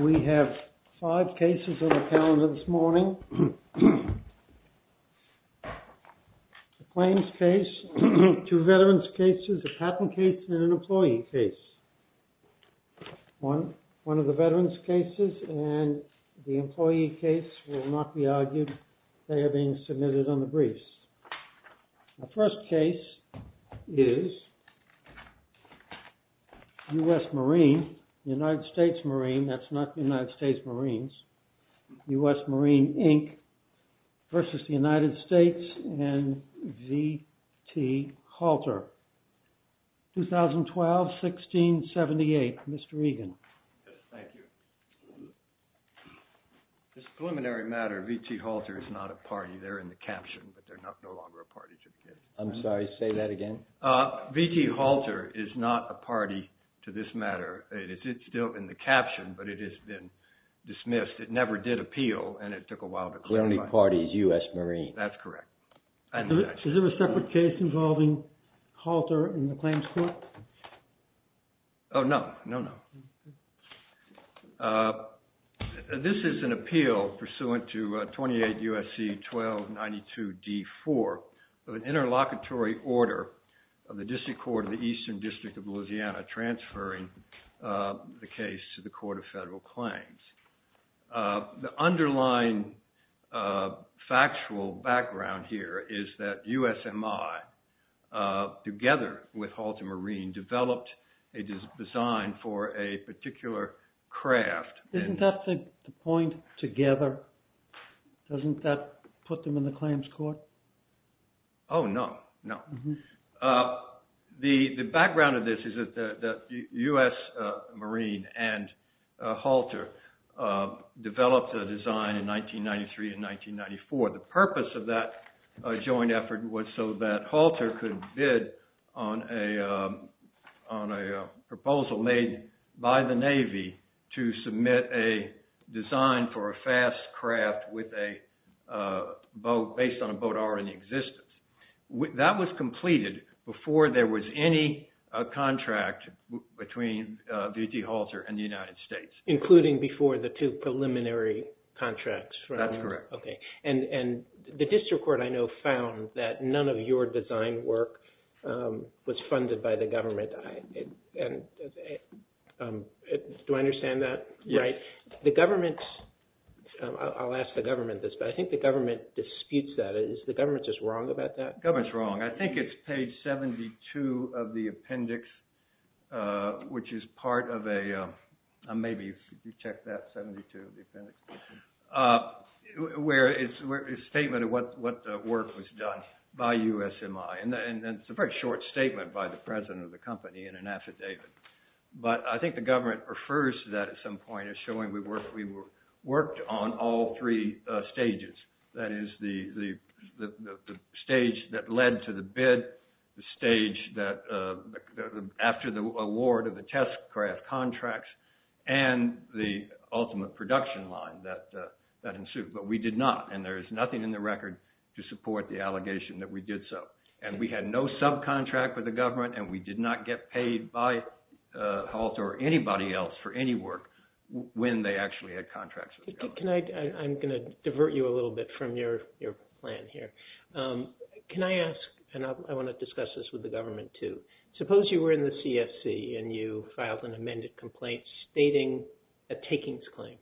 We have five cases on the calendar this morning, a claims case, two veterans cases, a patent case and an employee case. One of the veterans cases and the employee case will not be argued, they are being submitted on the briefs. The first case is U.S. Marine, United States Marine, that's not the United States Marines, U.S. Marine, Inc. versus the United States and V.T. Halter, 2012-16-78, Mr. Egan. Yes, thank you. This preliminary matter, V.T. Halter is not a party, they're in the caption, but they're no longer a party to the case. I'm sorry, say that again. V.T. Halter is not a party to this matter, it's still in the caption, but it has been dismissed. It never did appeal and it took a while to clarify. The only party is U.S. Marine. That's correct. Is there a separate case involving Halter in the claims court? Oh, no, no, no. This is an appeal pursuant to 28 U.S.C. 1292 D.4 of an interlocutory order of the District Court of the Eastern District of Louisiana transferring the case to the Court of Federal Claims. The underlying factual background here is that USMI, together with Halter Marine, developed a design for a particular craft. Isn't that the point, together? Doesn't that put them in the claims court? Oh, no, no. The background of this is that US Marine and Halter developed a design in 1993 and 1994. The purpose of that joint effort was so that Halter could bid on a proposal made by the Navy to submit a design for a fast craft based on a boat already in existence. That was completed before there was any contract between V.T. Halter and the United States. Including before the two preliminary contracts? That's correct. Okay. The District Court, I know, found that none of your design work was funded by the government. Do I understand that right? Yes. I'll ask the government this, but I think the government disputes that. Is the government just wrong about that? The government's wrong. I think it's page 72 of the appendix, which is part of a statement of what work was done by USMI. It's a very short statement by the president of the company in an affidavit. But I think the government refers to that at some point as showing we worked on all three stages. That is, the stage that led to the bid, the stage after the award of the test craft contracts, and the ultimate production line that ensued. But we did not, and there is nothing in the record to support the allegation that we did so. We had no subcontract with the government, and we did not get paid by Halter or anybody else for any work when they actually had contracts with the government. I'm going to divert you a little bit from your plan here. Can I ask, and I want to discuss this with the government too, suppose you were in the CFC and you filed an amended complaint stating a takings claim.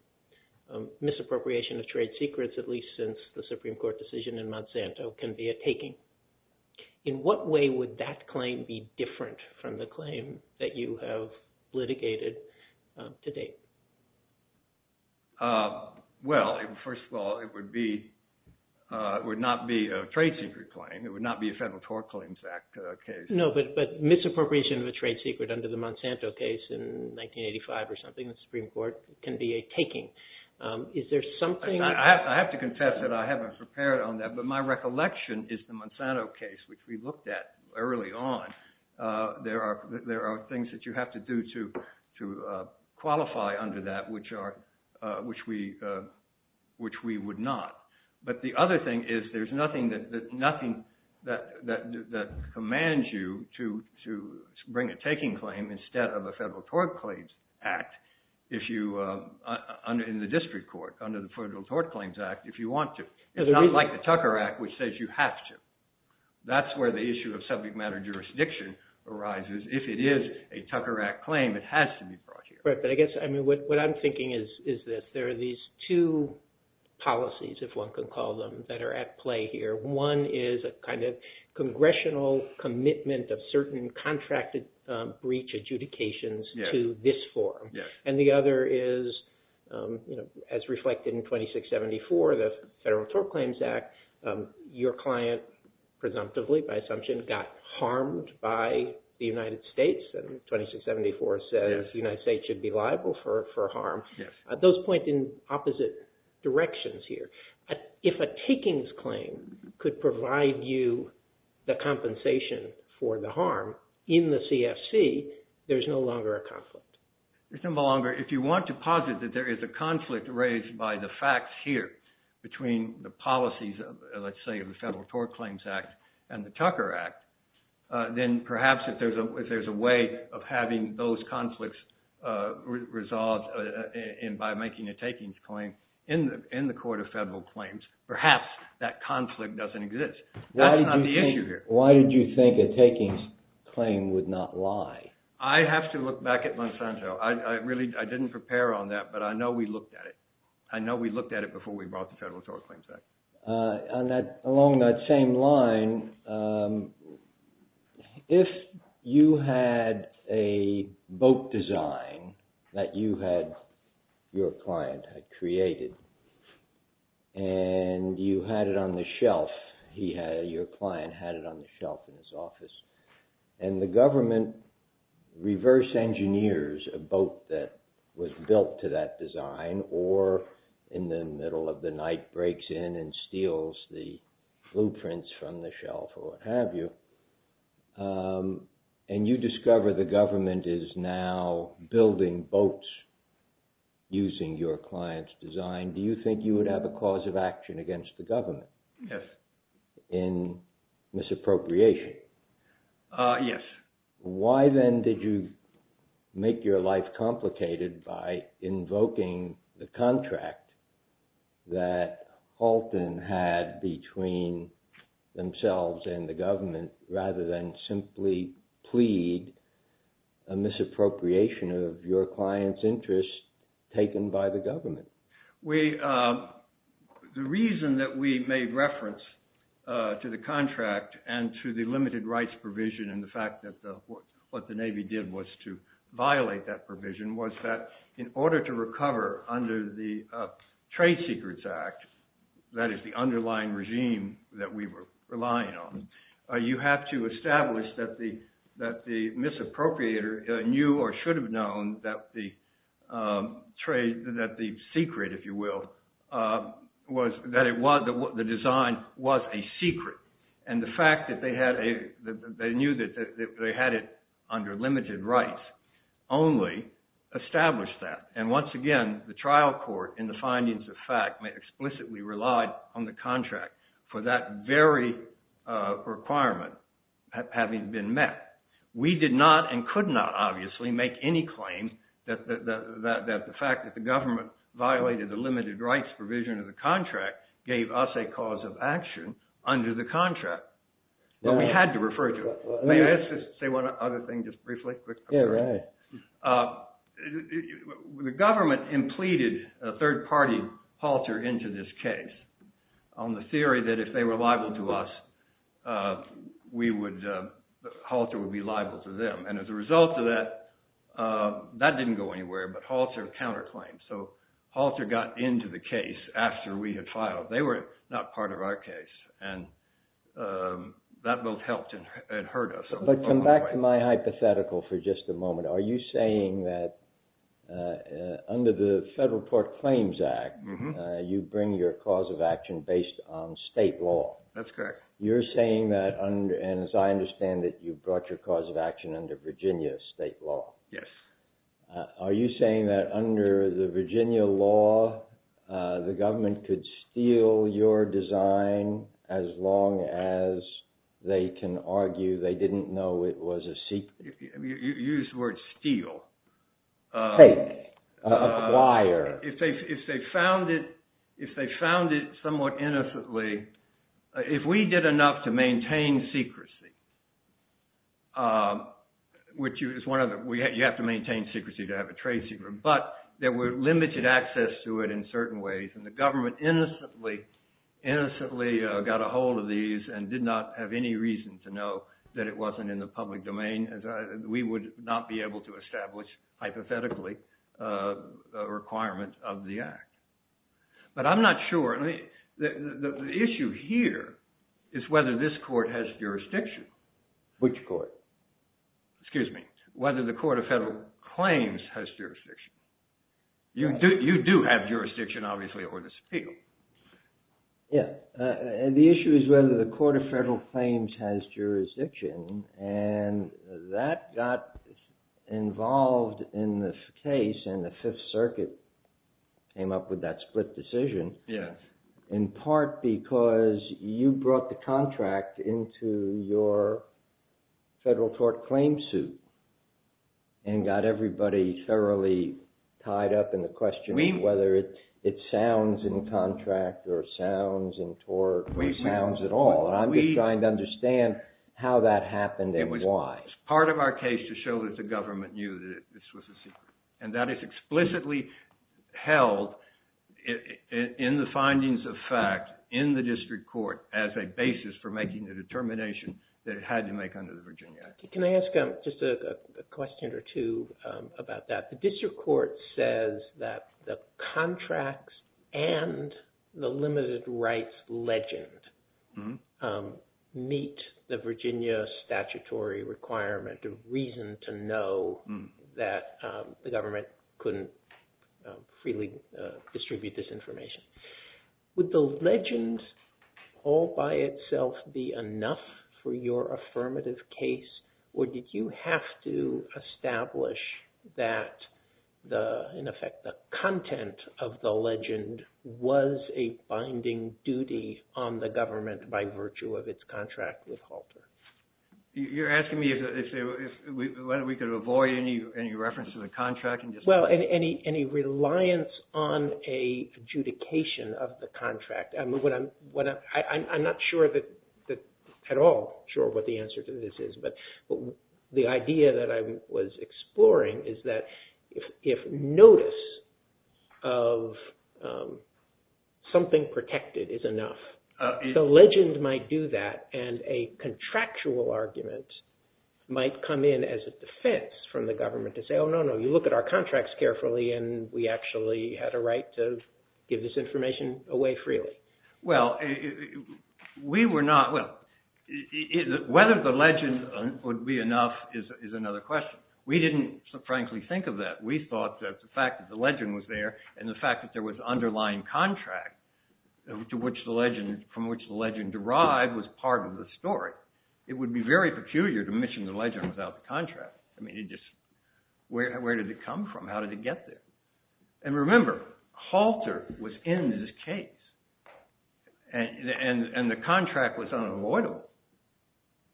Misappropriation of trade secrets, at least since the Supreme Court decision in Monsanto, can be a taking. In what way would that claim be different from the claim that you have litigated to date? Well, first of all, it would not be a trade secret claim. It would not be a Federal Tort Claims Act case. No, but misappropriation of a trade secret under the Monsanto case in 1985 or something, the Supreme Court, can be a taking. I have to confess that I haven't prepared on that, but my recollection is the Monsanto case, which we looked at early on, there are things that you have to do to qualify under that, which we would not. But the other thing is there's nothing that commands you to bring a taking claim instead of a Federal Tort Claims Act in the district court under the Federal Tort Claims Act if you want to. It's not like the Tucker Act, which says you have to. That's where the issue of subject matter jurisdiction arises. If it is a Tucker Act claim, it has to be brought here. Right, but I guess what I'm thinking is that there are these two policies, if one can call them, that are at play here. One is a kind of congressional commitment of certain contracted breach adjudications to this form. And the other is, as reflected in 2674, the Federal Tort Claims Act, your client presumptively by assumption got harmed by the United States. And 2674 says the United States should be liable for harm. Those point in opposite directions here. If a takings claim could provide you the compensation for the harm in the CFC, there's no longer a conflict. There's no longer. If you want to posit that there is a conflict raised by the facts here between the policies, let's say, of the Federal Tort Claims Act and the Tucker Act, then perhaps if there's a way of having those conflicts resolved by making a takings claim in the Court of Federal Claims, perhaps that conflict doesn't exist. That's not the issue here. Why did you think a takings claim would not lie? I have to look back at Monsanto. I really didn't prepare on that, but I know we looked at it. I know we looked at it before we brought the Federal Tort Claims Act. Along that same line, if you had a boat design that you had, your client had created, and you had it on the shelf, your client had it on the shelf in his office, and the government reverse engineers a boat that was built to that design, or in the middle of the night breaks in and steals the blueprints from the shelf or what have you, and you discover the government is now building boats using your client's design, do you think you would have a cause of action against the government in misappropriation? Yes. Why then did you make your life complicated by invoking the contract that Halton had between themselves and the government rather than simply plead a misappropriation of your client's interest taken by the government? The reason that we made reference to the contract and to the limited rights provision and the fact that what the Navy did was to violate that provision was that in order to recover under the Trade Secrets Act, that is the underlying regime that we were relying on, you have to establish that the misappropriator knew or should have known that the secret, if you will, was that the design was a secret. And the fact that they knew that they had it under limited rights only established that. And once again, the trial court in the findings of fact explicitly relied on the contract for that very requirement having been met. We did not and could not, obviously, make any claim that the fact that the government violated the limited rights provision of the contract gave us a cause of action under the contract. But we had to refer to it. May I just say one other thing just briefly? Yeah, go ahead. The government implemented a third-party halter into this case on the theory that if they were liable to us, halter would be liable to them. And as a result of that, that didn't go anywhere, but halter counterclaimed. So halter got into the case after we had filed. They were not part of our case, and that both helped and hurt us. But come back to my hypothetical for just a moment. Are you saying that under the Federal Court Claims Act, you bring your cause of action based on state law? That's correct. You're saying that, and as I understand it, you brought your cause of action under Virginia state law. Yes. Are you saying that under the Virginia law, the government could steal your design as long as they can argue they didn't know it was a secret? You used the word steal. Acquire. If they found it somewhat innocently. If we did enough to maintain secrecy, which you have to maintain secrecy to have a trade secret, but there were limited access to it in certain ways, and the government innocently got a hold of these and did not have any reason to know that it wasn't in the public domain, we would not be able to establish, hypothetically, a requirement of the act. But I'm not sure. The issue here is whether this court has jurisdiction. Which court? Excuse me. Whether the Court of Federal Claims has jurisdiction. You do have jurisdiction, obviously, over this appeal. Yeah. The issue is whether the Court of Federal Claims has jurisdiction, and that got involved in the case, and the Fifth Circuit came up with that split decision. Yes. In part because you brought the contract into your federal court claim suit and got everybody thoroughly tied up in the question of whether it sounds in contract or sounds in tort or sounds at all, and I'm just trying to understand how that happened and why. It was part of our case to show that the government knew that this was a secret, and that is explicitly held in the findings of fact in the district court as a basis for making the determination that it had to make under the Virginia Act. Can I ask just a question or two about that? The district court says that the contracts and the limited rights legend meet the Virginia statutory requirement of reason to know that the government couldn't freely distribute this information. Would the legend all by itself be enough for your affirmative case, or did you have to establish that, in effect, the content of the legend was a binding duty on the government by virtue of its contract with Halter? You're asking me whether we could avoid any reference to the contract? Well, any reliance on an adjudication of the contract. I'm not at all sure what the answer to this is, but the idea that I was exploring is that if notice of something protected is enough, the legend might do that, and a contractual argument might come in as a defense from the government to say, oh, no, no, you look at our contracts carefully, and we actually had a right to give this information away freely. Well, whether the legend would be enough is another question. We didn't, frankly, think of that. We thought that the fact that the legend was there and the fact that there was underlying contract from which the legend derived was part of the story. It would be very peculiar to mission the legend without the contract. Where did it come from? How did it get there? And remember, Halter was in this case, and the contract was unavoidable.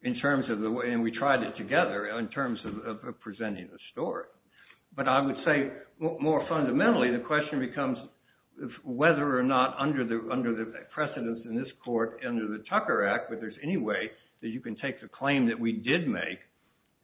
And we tried it together in terms of presenting the story. But I would say, more fundamentally, the question becomes whether or not under the precedence in this court under the Tucker Act, whether there's any way that you can take the claim that we did make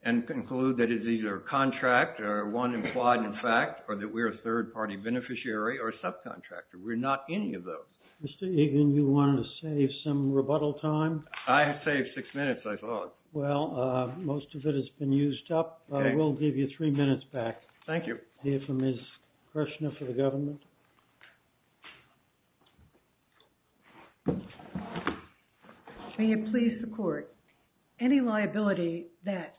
and conclude that it's either a contract or one implied in fact or that we're a third-party beneficiary or subcontractor. We're not any of those. Mr. Egan, you wanted to save some rebuttal time? I have saved six minutes, I thought. Well, most of it has been used up. We'll give you three minutes back. Thank you. We'll hear from Ms. Kershner for the government. May it please the court, any liability that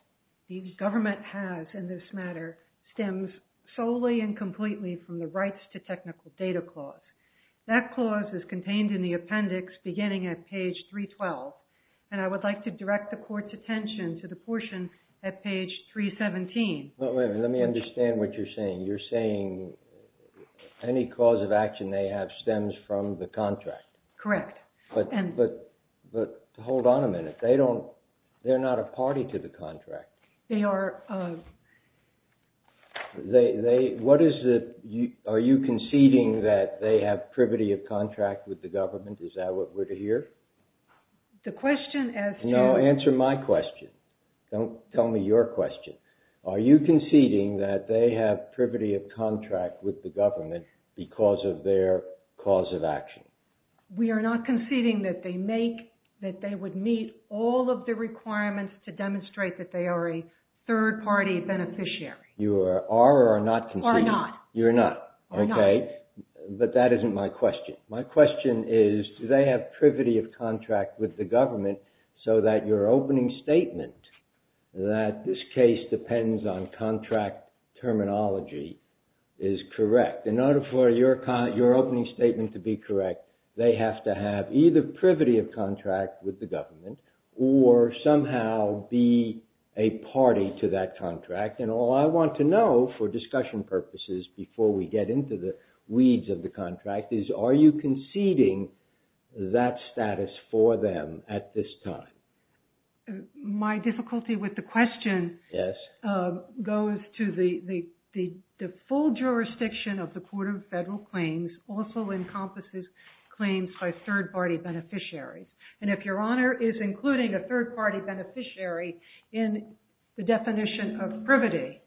the government has in this matter stems solely and completely from the rights to technical data clause. That clause is contained in the appendix beginning at page 312, and I would like to direct the court's attention to the portion at page 317. Let me understand what you're saying. You're saying any cause of action they have stems from the contract? Correct. But hold on a minute. They're not a party to the contract. Are you conceding that they have privity of contract with the government? Is that what we're to hear? No, answer my question. Don't tell me your question. Are you conceding that they have privity of contract with the government because of their cause of action? We are not conceding that they would meet all of the requirements to demonstrate that they are a third-party beneficiary. You are or are not conceding? Are not. You're not, okay. But that isn't my question. My question is, do they have privity of contract with the government so that your opening statement that this case depends on contract terminology is correct? In order for your opening statement to be correct, they have to have either privity of contract with the government or somehow be a party to that contract. And all I want to know, for discussion purposes, before we get into the weeds of the contract, is are you conceding that status for them at this time? My difficulty with the question goes to the full jurisdiction of the Court of Federal Claims also encompasses claims by third-party beneficiaries. And if Your Honor is including a third-party beneficiary in the definition of privity,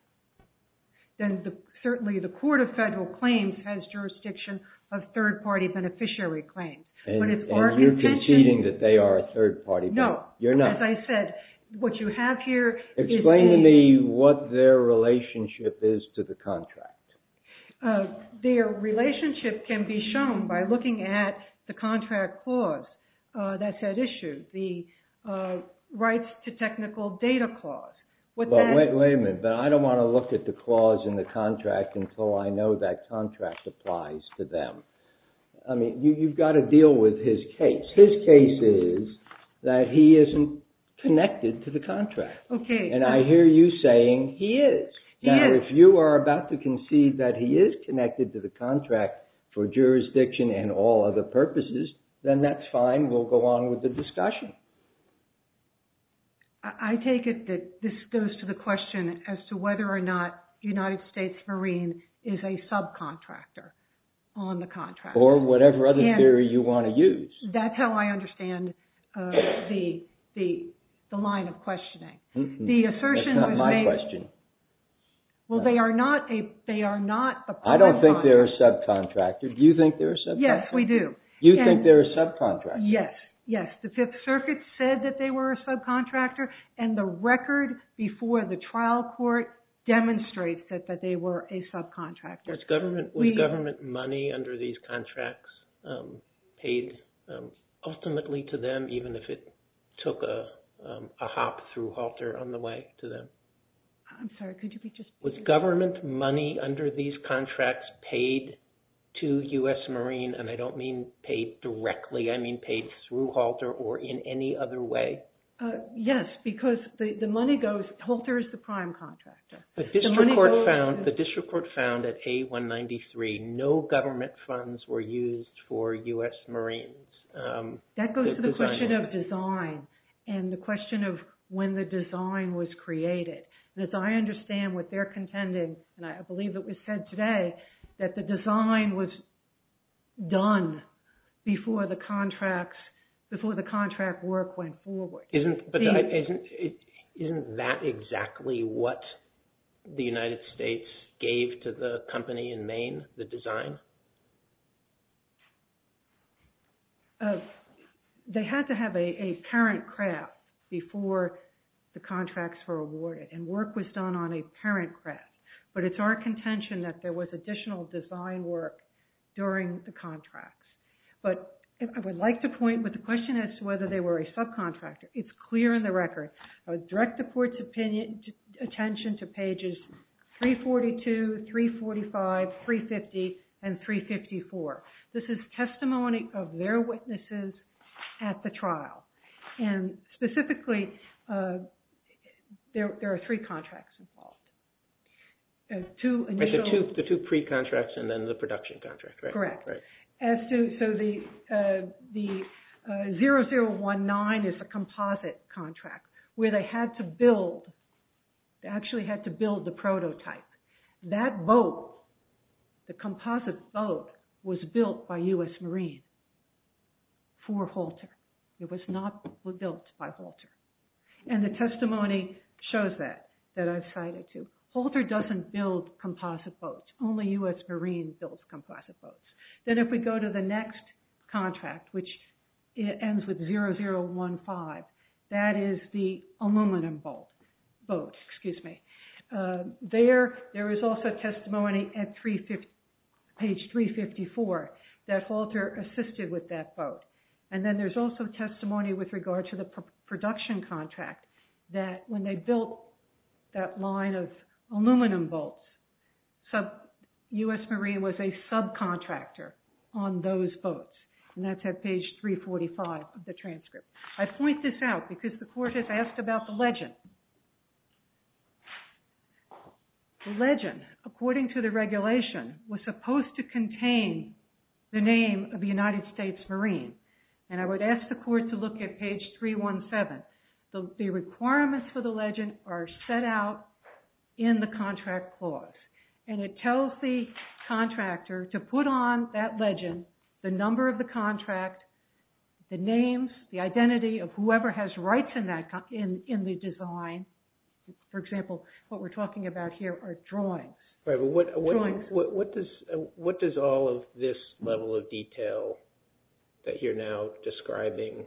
then certainly the Court of Federal Claims has jurisdiction of third-party beneficiary claims. And you're conceding that they are a third-party? No. You're not. As I said, what you have here is a... Explain to me what their relationship is to the contract. Their relationship can be shown by looking at the contract clause that's at issue, the rights to technical data clause. Wait a minute. But I don't want to look at the clause in the contract until I know that contract applies to them. I mean, you've got to deal with his case. His case is that he isn't connected to the contract. Okay. And I hear you saying he is. He is. Now, if you are about to concede that he is connected to the contract for jurisdiction and all other purposes, then that's fine. We'll go on with the discussion. I take it that this goes to the question as to whether or not United States Marine is a subcontractor on the contract. Or whatever other theory you want to use. That's how I understand the line of questioning. That's not my question. Well, they are not a... I don't think they're a subcontractor. Do you think they're a subcontractor? Yes, we do. You think they're a subcontractor? Yes. Yes, the Fifth Circuit said that they were a subcontractor. And the record before the trial court demonstrates that they were a subcontractor. Was government money under these contracts paid ultimately to them, even if it took a hop through halter on the way to them? I'm sorry. Could you be just... Was government money under these contracts paid to U.S. Marine? And I don't mean paid directly. I mean paid through halter or in any other way. Yes, because the money goes... Halter is the prime contractor. The district court found at A193 no government funds were used for U.S. Marines. That goes to the question of design. And the question of when the design was created. As I understand what they're contending, and I believe it was said today, that the design was done before the contract work went forward. Isn't that exactly what the United States gave to the company in Maine, the design? They had to have a parent craft before the contracts were awarded. And work was done on a parent craft. But it's our contention that there was additional design work during the contracts. But I would like to point, but the question is whether they were a subcontractor. It's clear in the record. I would direct the court's attention to pages 342, 345, 350, and 354. This is testimony of their witnesses at the trial. And specifically, there are three contracts involved. The two pre-contracts and then the production contract. Correct. So the 0019 is a composite contract where they had to build, they actually had to build the prototype. That boat, the composite boat, was built by U.S. Marines for Halter. It was not built by Halter. And the testimony shows that, that I've cited to. Halter doesn't build composite boats. Only U.S. Marines build composite boats. Then if we go to the next contract, which ends with 0015, that is the aluminum boat. There is also testimony at page 354 that Halter assisted with that boat. And then there's also testimony with regard to the production contract that when they built that line of aluminum boats, U.S. Marines was a subcontractor on those boats. And that's at page 345 of the transcript. I point this out because the court has asked about the legend. The legend, according to the regulation, was supposed to contain the name of the United States Marines. And I would ask the court to look at page 317. The requirements for the legend are set out in the contract clause. And it tells the contractor to put on that legend the number of the contract, the names, the identity of whoever has rights in the design. For example, what we're talking about here are drawings. What does all of this level of detail that you're now describing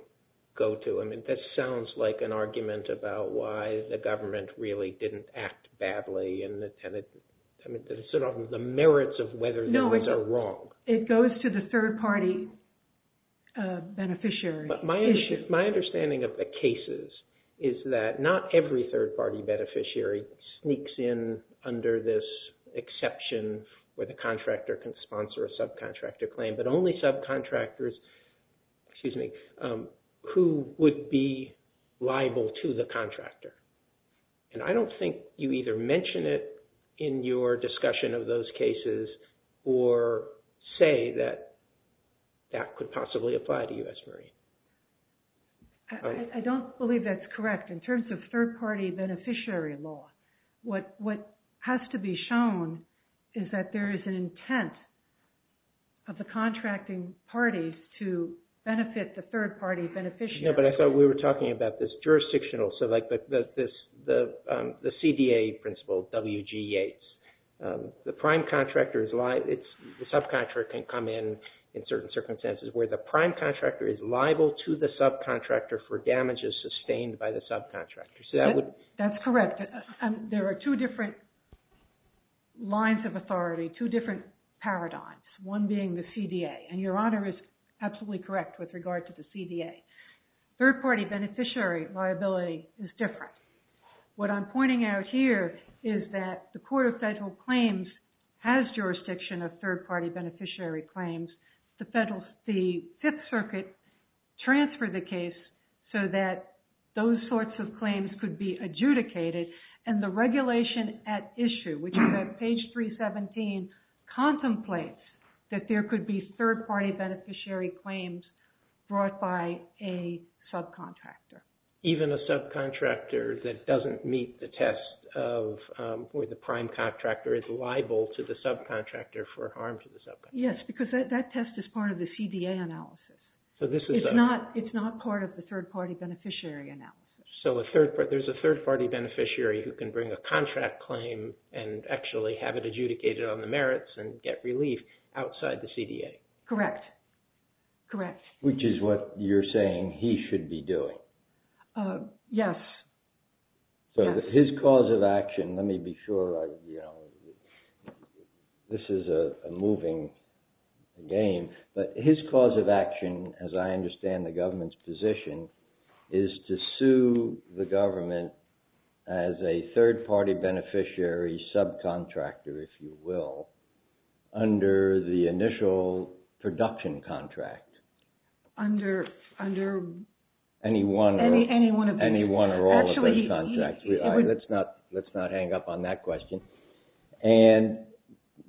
go to? I mean, that sounds like an argument about why the government really didn't act badly and sort of the merits of whether these are wrong. It goes to the third-party beneficiary issue. My understanding of the cases is that not every third-party beneficiary sneaks in under this exception where the contractor can sponsor a subcontractor claim, but only subcontractors who would be liable to the contractor. And I don't think you either mention it in your discussion of those cases or say that that could possibly apply to U.S. Marines. I don't believe that's correct. In terms of third-party beneficiary law, what has to be shown is that there is an intent of the contracting parties to benefit the third-party beneficiary. But I thought we were talking about this jurisdictional, so like the CDA principle, WGE. The prime contractor is liable. The subcontractor can come in in certain circumstances where the prime contractor is liable to the subcontractor for damages sustained by the subcontractor. That's correct. There are two different lines of authority, two different paradigms, one being the CDA. And Your Honor is absolutely correct with regard to the CDA. Third-party beneficiary liability is different. What I'm pointing out here is that the Court of Federal Claims has jurisdiction of third-party beneficiary claims. The Fifth Circuit transferred the case so that those sorts of claims could be adjudicated. And the regulation at issue, which is at page 317, contemplates that there could be third-party beneficiary claims brought by a subcontractor. Even a subcontractor that doesn't meet the test where the prime contractor is liable to the subcontractor for harm to the subcontractor. Yes, because that test is part of the CDA analysis. It's not part of the third-party beneficiary analysis. So there's a third-party beneficiary who can bring a contract claim and actually have it adjudicated on the merits and get relief outside the CDA. Correct. Which is what you're saying he should be doing. Yes. So his cause of action, let me be sure... This is a moving game. But his cause of action, as I understand the government's position, is to sue the government as a third-party beneficiary subcontractor, if you will, under the initial production contract. Under... Any one or all of those contracts. Let's not hang up on that question. And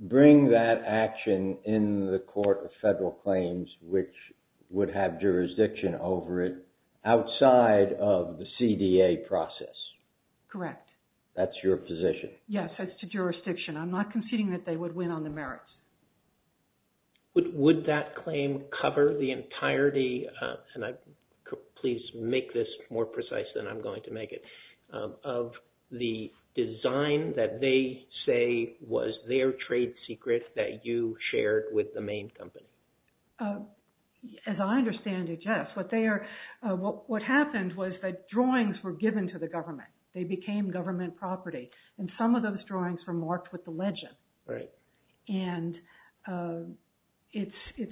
bring that action in the court of federal claims which would have jurisdiction over it outside of the CDA process. Correct. That's your position. Yes, as to jurisdiction. I'm not conceding that they would win on the merits. Would that claim cover the entirety... And please make this more precise than I'm going to make it. Of the design that they say was their trade secret that you shared with the main company. As I understand it, yes. What happened was that drawings were given to the government. They became government property. And some of those drawings were marked with the legend. Right. And it's...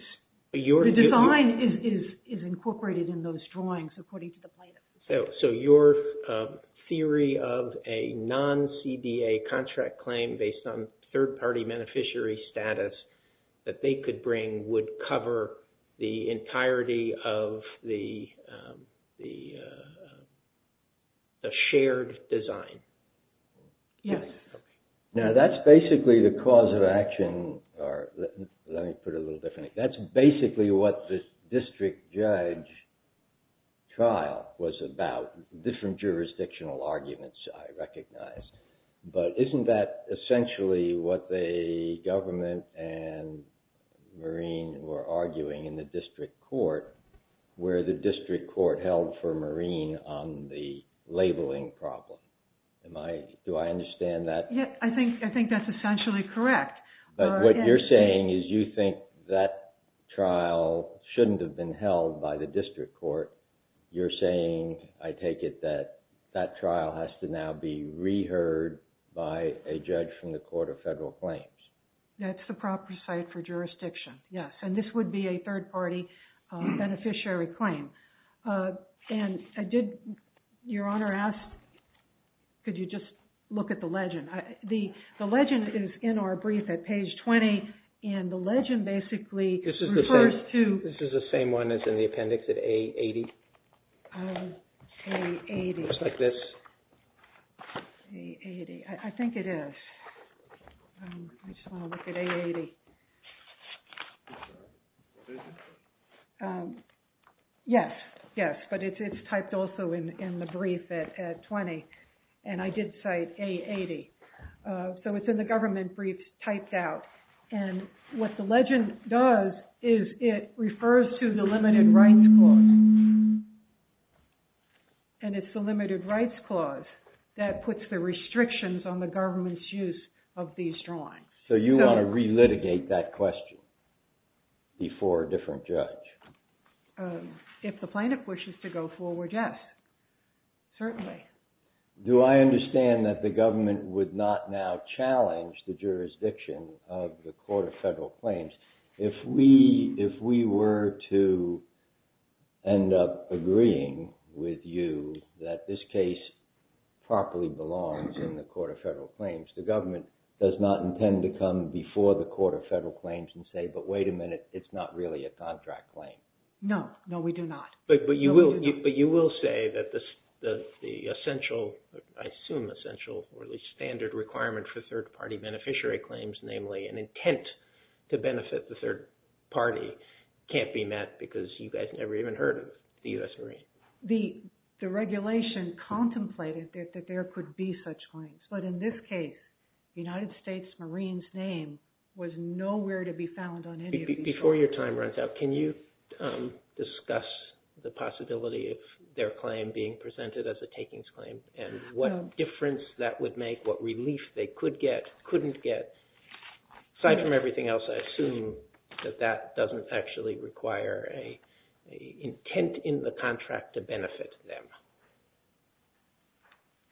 The design is incorporated in those drawings according to the plaintiff's decision. So your theory of a non-CDA contract claim based on third-party beneficiary status that they could bring would cover the entirety of the shared design. Yes. Now, that's basically the cause of action... Let me put it a little differently. That's basically what the district judge trial was about. Different jurisdictional arguments, I recognize. But isn't that essentially what the government and Marine were arguing in the district court where the district court held for Marine on the labeling problem? Do I understand that? I think that's essentially correct. But what you're saying is you think that trial shouldn't have been held by the district court. You're saying, I take it, that that trial has to now be re-heard by a judge from the Court of Federal Claims. That's the proper site for jurisdiction, yes. And this would be a third-party beneficiary claim. And I did... Your Honor asked could you just look at the legend. The legend is in our brief at page 20. And the legend basically refers to... This is the same one that's in the appendix at A80? A80. Just like this. A80. I think it is. I just want to look at A80. Yes, yes. But it's typed also in the brief at 20. And I did cite A80. So it's in the government briefs typed out. And what the legend does is it refers to the limited rights clause. And it's the limited rights clause that puts the restrictions on the government's use of these drawings. So you want to re-litigate that question before a different judge? If the plaintiff wishes to go forward, yes. Certainly. Do I understand that the government would not now challenge the jurisdiction of the Court of Federal Claims if we were to end up agreeing with you that this case properly belongs in the Court of Federal Claims? The government does not intend to come before the Court of Federal Claims and say, but wait a minute, it's not really a contract claim. No, no, we do not. But you will say that the essential, I assume essential, or at least standard requirement for third-party beneficiary claims, namely an intent to benefit the third party, can't be met because you guys never even heard of the U.S. Marines. The regulation contemplated that there could be such claims. But in this case, the United States Marines name was nowhere to be found on any of these claims. Before your time runs out, can you discuss the possibility of their claim being presented as a takings claim and what difference that would make, what relief they could get, couldn't get. Aside from everything else, I assume that that doesn't actually require an intent in the contract to benefit them.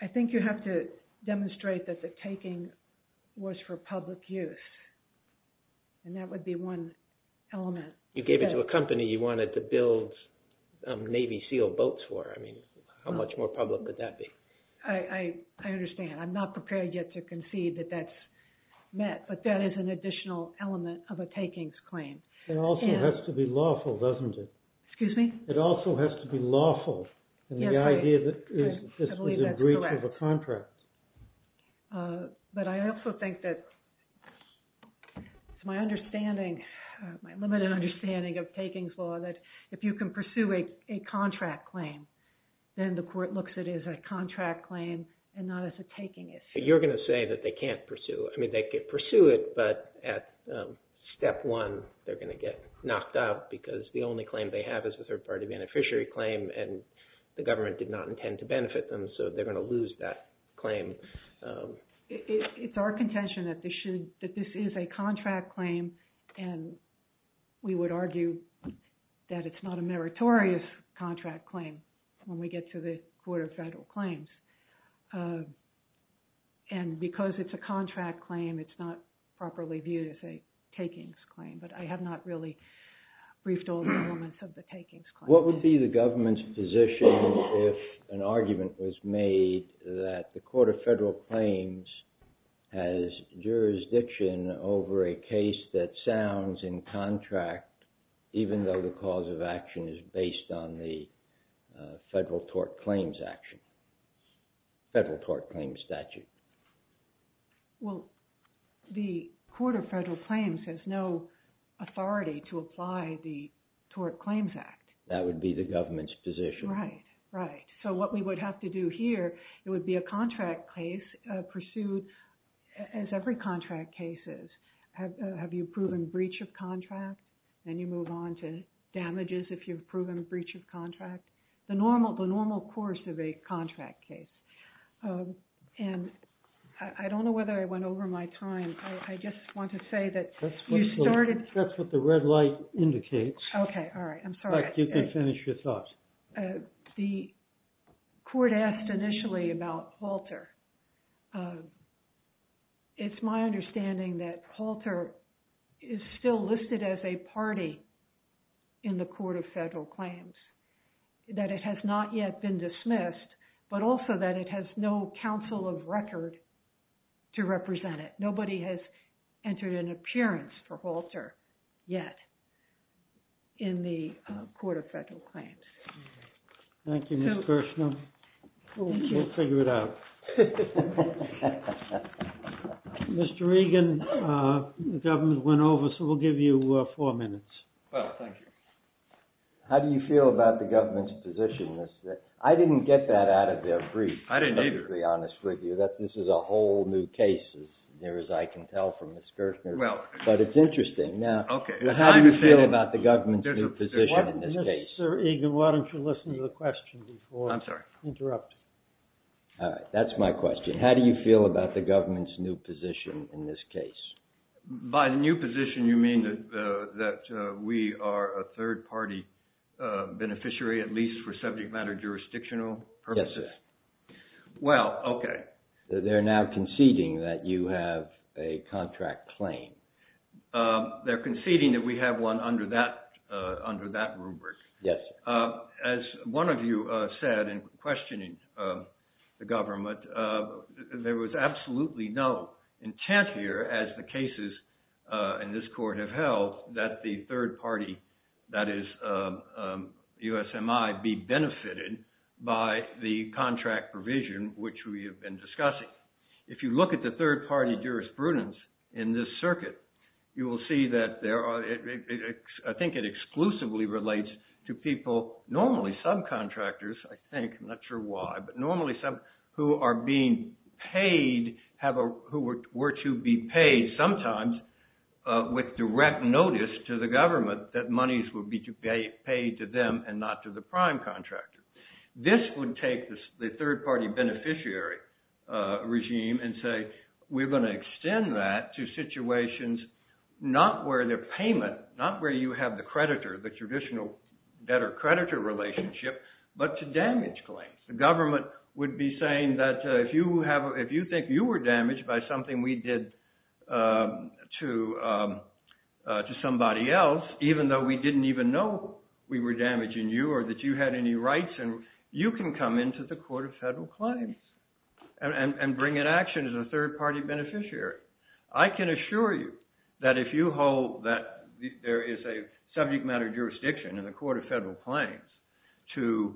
I think you have to demonstrate that the taking was for public use, and that would be one element. You gave it to a company you wanted to build Navy SEAL boats for. I mean, how much more public could that be? I understand. I'm not prepared yet to concede that that's met, but that is an additional element of a takings claim. It also has to be lawful, doesn't it? Excuse me? It also has to be lawful, and the idea that this was a breach of a contract. But I also think that my understanding, my limited understanding of takings law, that if you can pursue a contract claim, then the court looks at it as a contract claim and not as a taking issue. You're going to say that they can't pursue it. I mean, they could pursue it, but at step one they're going to get knocked out because the only claim they have is a third-party beneficiary claim, and the government did not intend to benefit them, so they're going to lose that claim. It's our contention that this is a contract claim and we would argue that it's not a meritorious contract claim when we get to the Court of Federal Claims. And because it's a contract claim, it's not properly viewed as a takings claim, but I have not really briefed all the elements of the takings claim. What would be the government's position if an argument was made that the Court of Federal Claims has jurisdiction over a case that sounds in contract even though the cause of action is based on the Federal Tort Claims Statute? Well, the Court of Federal Claims has no authority to apply the Tort Claims Act. That would be the government's position. Right, right. So what we would have to do here, it would be a contract case pursued, as every contract case is. Have you proven breach of contract? Then you move on to damages if you've proven breach of contract. The normal course of a contract case. And I don't know whether I went over my time. I just want to say that you started... That's what the red light indicates. Okay, all right, I'm sorry. In fact, you can finish your thoughts. The court asked initially about Halter. It's my understanding that Halter is still listed as a party in the Court of Federal Claims, that it has not yet been dismissed, but also that it has no counsel of record to represent it. Nobody has entered an appearance for Halter yet in the Court of Federal Claims. Thank you, Ms. Gershner. We'll figure it out. Mr. Regan, the government went over, so we'll give you four minutes. Well, thank you. How do you feel about the government's position? I didn't get that out of their brief, to be perfectly honest with you. I didn't either. This is a whole new case, as near as I can tell from Ms. Gershner. But it's interesting. How do you feel about the government's new position in this case? Mr. Egan, why don't you listen to the question before you interrupt? All right, that's my question. How do you feel about the government's new position in this case? By the new position, you mean that we are a third-party beneficiary, at least for subject matter jurisdictional purposes? Yes, sir. Well, okay. They're now conceding that you have a contract claim. They're conceding that we have one under that rubric. Yes. As one of you said in questioning the government, there was absolutely no intent here, as the cases in this court have held, that the third party, that is USMI, be benefited by the contract provision which we have been discussing. If you look at the third party jurisprudence in this circuit, you will see that there are, I think it exclusively relates to people, normally subcontractors, I think, I'm not sure why, but normally some who are being paid, who were to be paid sometimes with direct notice to the government that monies would be paid to them and not to the prime contractor. This would take the third party beneficiary regime and say we're going to extend that to situations not where the payment, not where you have the creditor, the traditional debtor-creditor relationship, but to damage claims. The government would be saying that if you think you were damaged by something we did to somebody else, even though we didn't even know we were damaging you or that you had any rights, you can come into the Court of Federal Claims and bring an action as a third party beneficiary. I can assure you that if you hold that there is a subject matter jurisdiction in the Court of Federal Claims to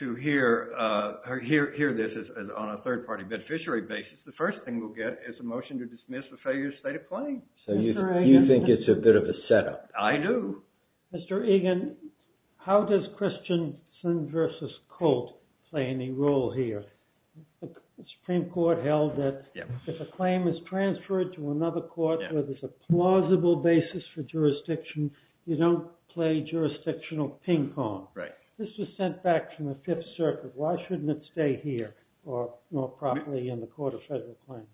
hear this on a third party beneficiary basis, the first thing we'll get is a motion to dismiss the failure state of claims. So you think it's a bit of a setup. I do. Mr. Egan, how does Christensen versus Colt play any role here? The Supreme Court held that if a claim is transferred to another court where there's a plausible basis for jurisdiction, you don't play jurisdictional ping-pong. This was sent back from the Fifth Circuit. Why shouldn't it stay here or properly in the Court of Federal Claims?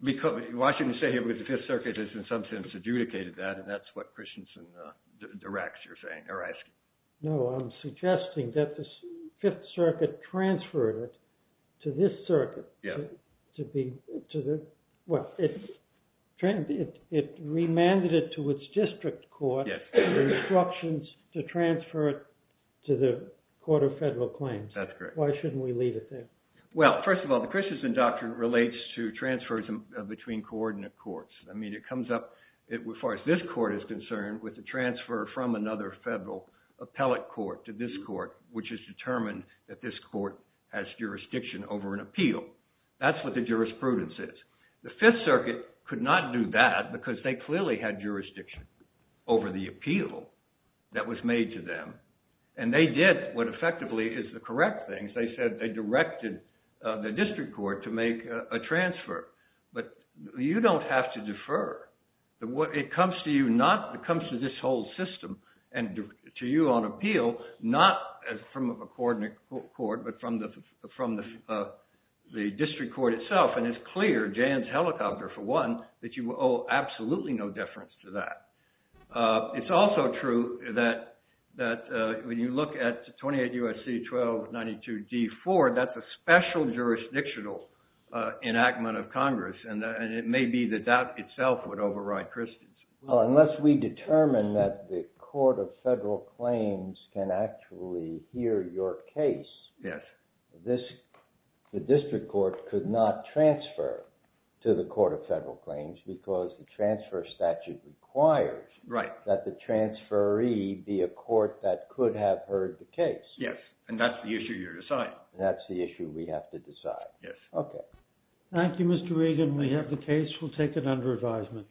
Why shouldn't it stay here? Because the Fifth Circuit has in some sense adjudicated that and that's what Christensen directs, you're asking. No, I'm suggesting that the Fifth Circuit transferred it to this circuit. It remanded it to its district court with instructions to transfer it to the Court of Federal Claims. That's correct. Why shouldn't we leave it there? Well, first of all, the Christensen doctrine relates to transfers between coordinate courts. I mean, it comes up as far as this court is concerned with the transfer from another federal appellate court to this court which is determined that this court has jurisdiction over an appeal. That's what the jurisprudence is. The Fifth Circuit could not do that because they clearly had jurisdiction over the appeal that was made to them and they did what effectively is the correct thing. They said they directed the district court to make a transfer. But you don't have to defer. It comes to this whole system and to you on appeal not from a coordinate court but from the district court itself and it's clear, Jan's helicopter for one, that you owe absolutely no deference to that. It's also true that when you look at 28 U.S.C. 1292 D.4 that's a special jurisdictional enactment of Congress and it may be that that itself would override Christensen. Unless we determine that the Court of Federal Claims can actually hear your case, the district court could not transfer to the Court of Federal Claims because the transfer statute requires that the transferee be a court that could have heard the case. Yes, and that's the issue you're deciding. That's the issue we have to decide. Yes. Okay. Thank you, Mr. Regan. We have the case. We'll take it under advisement.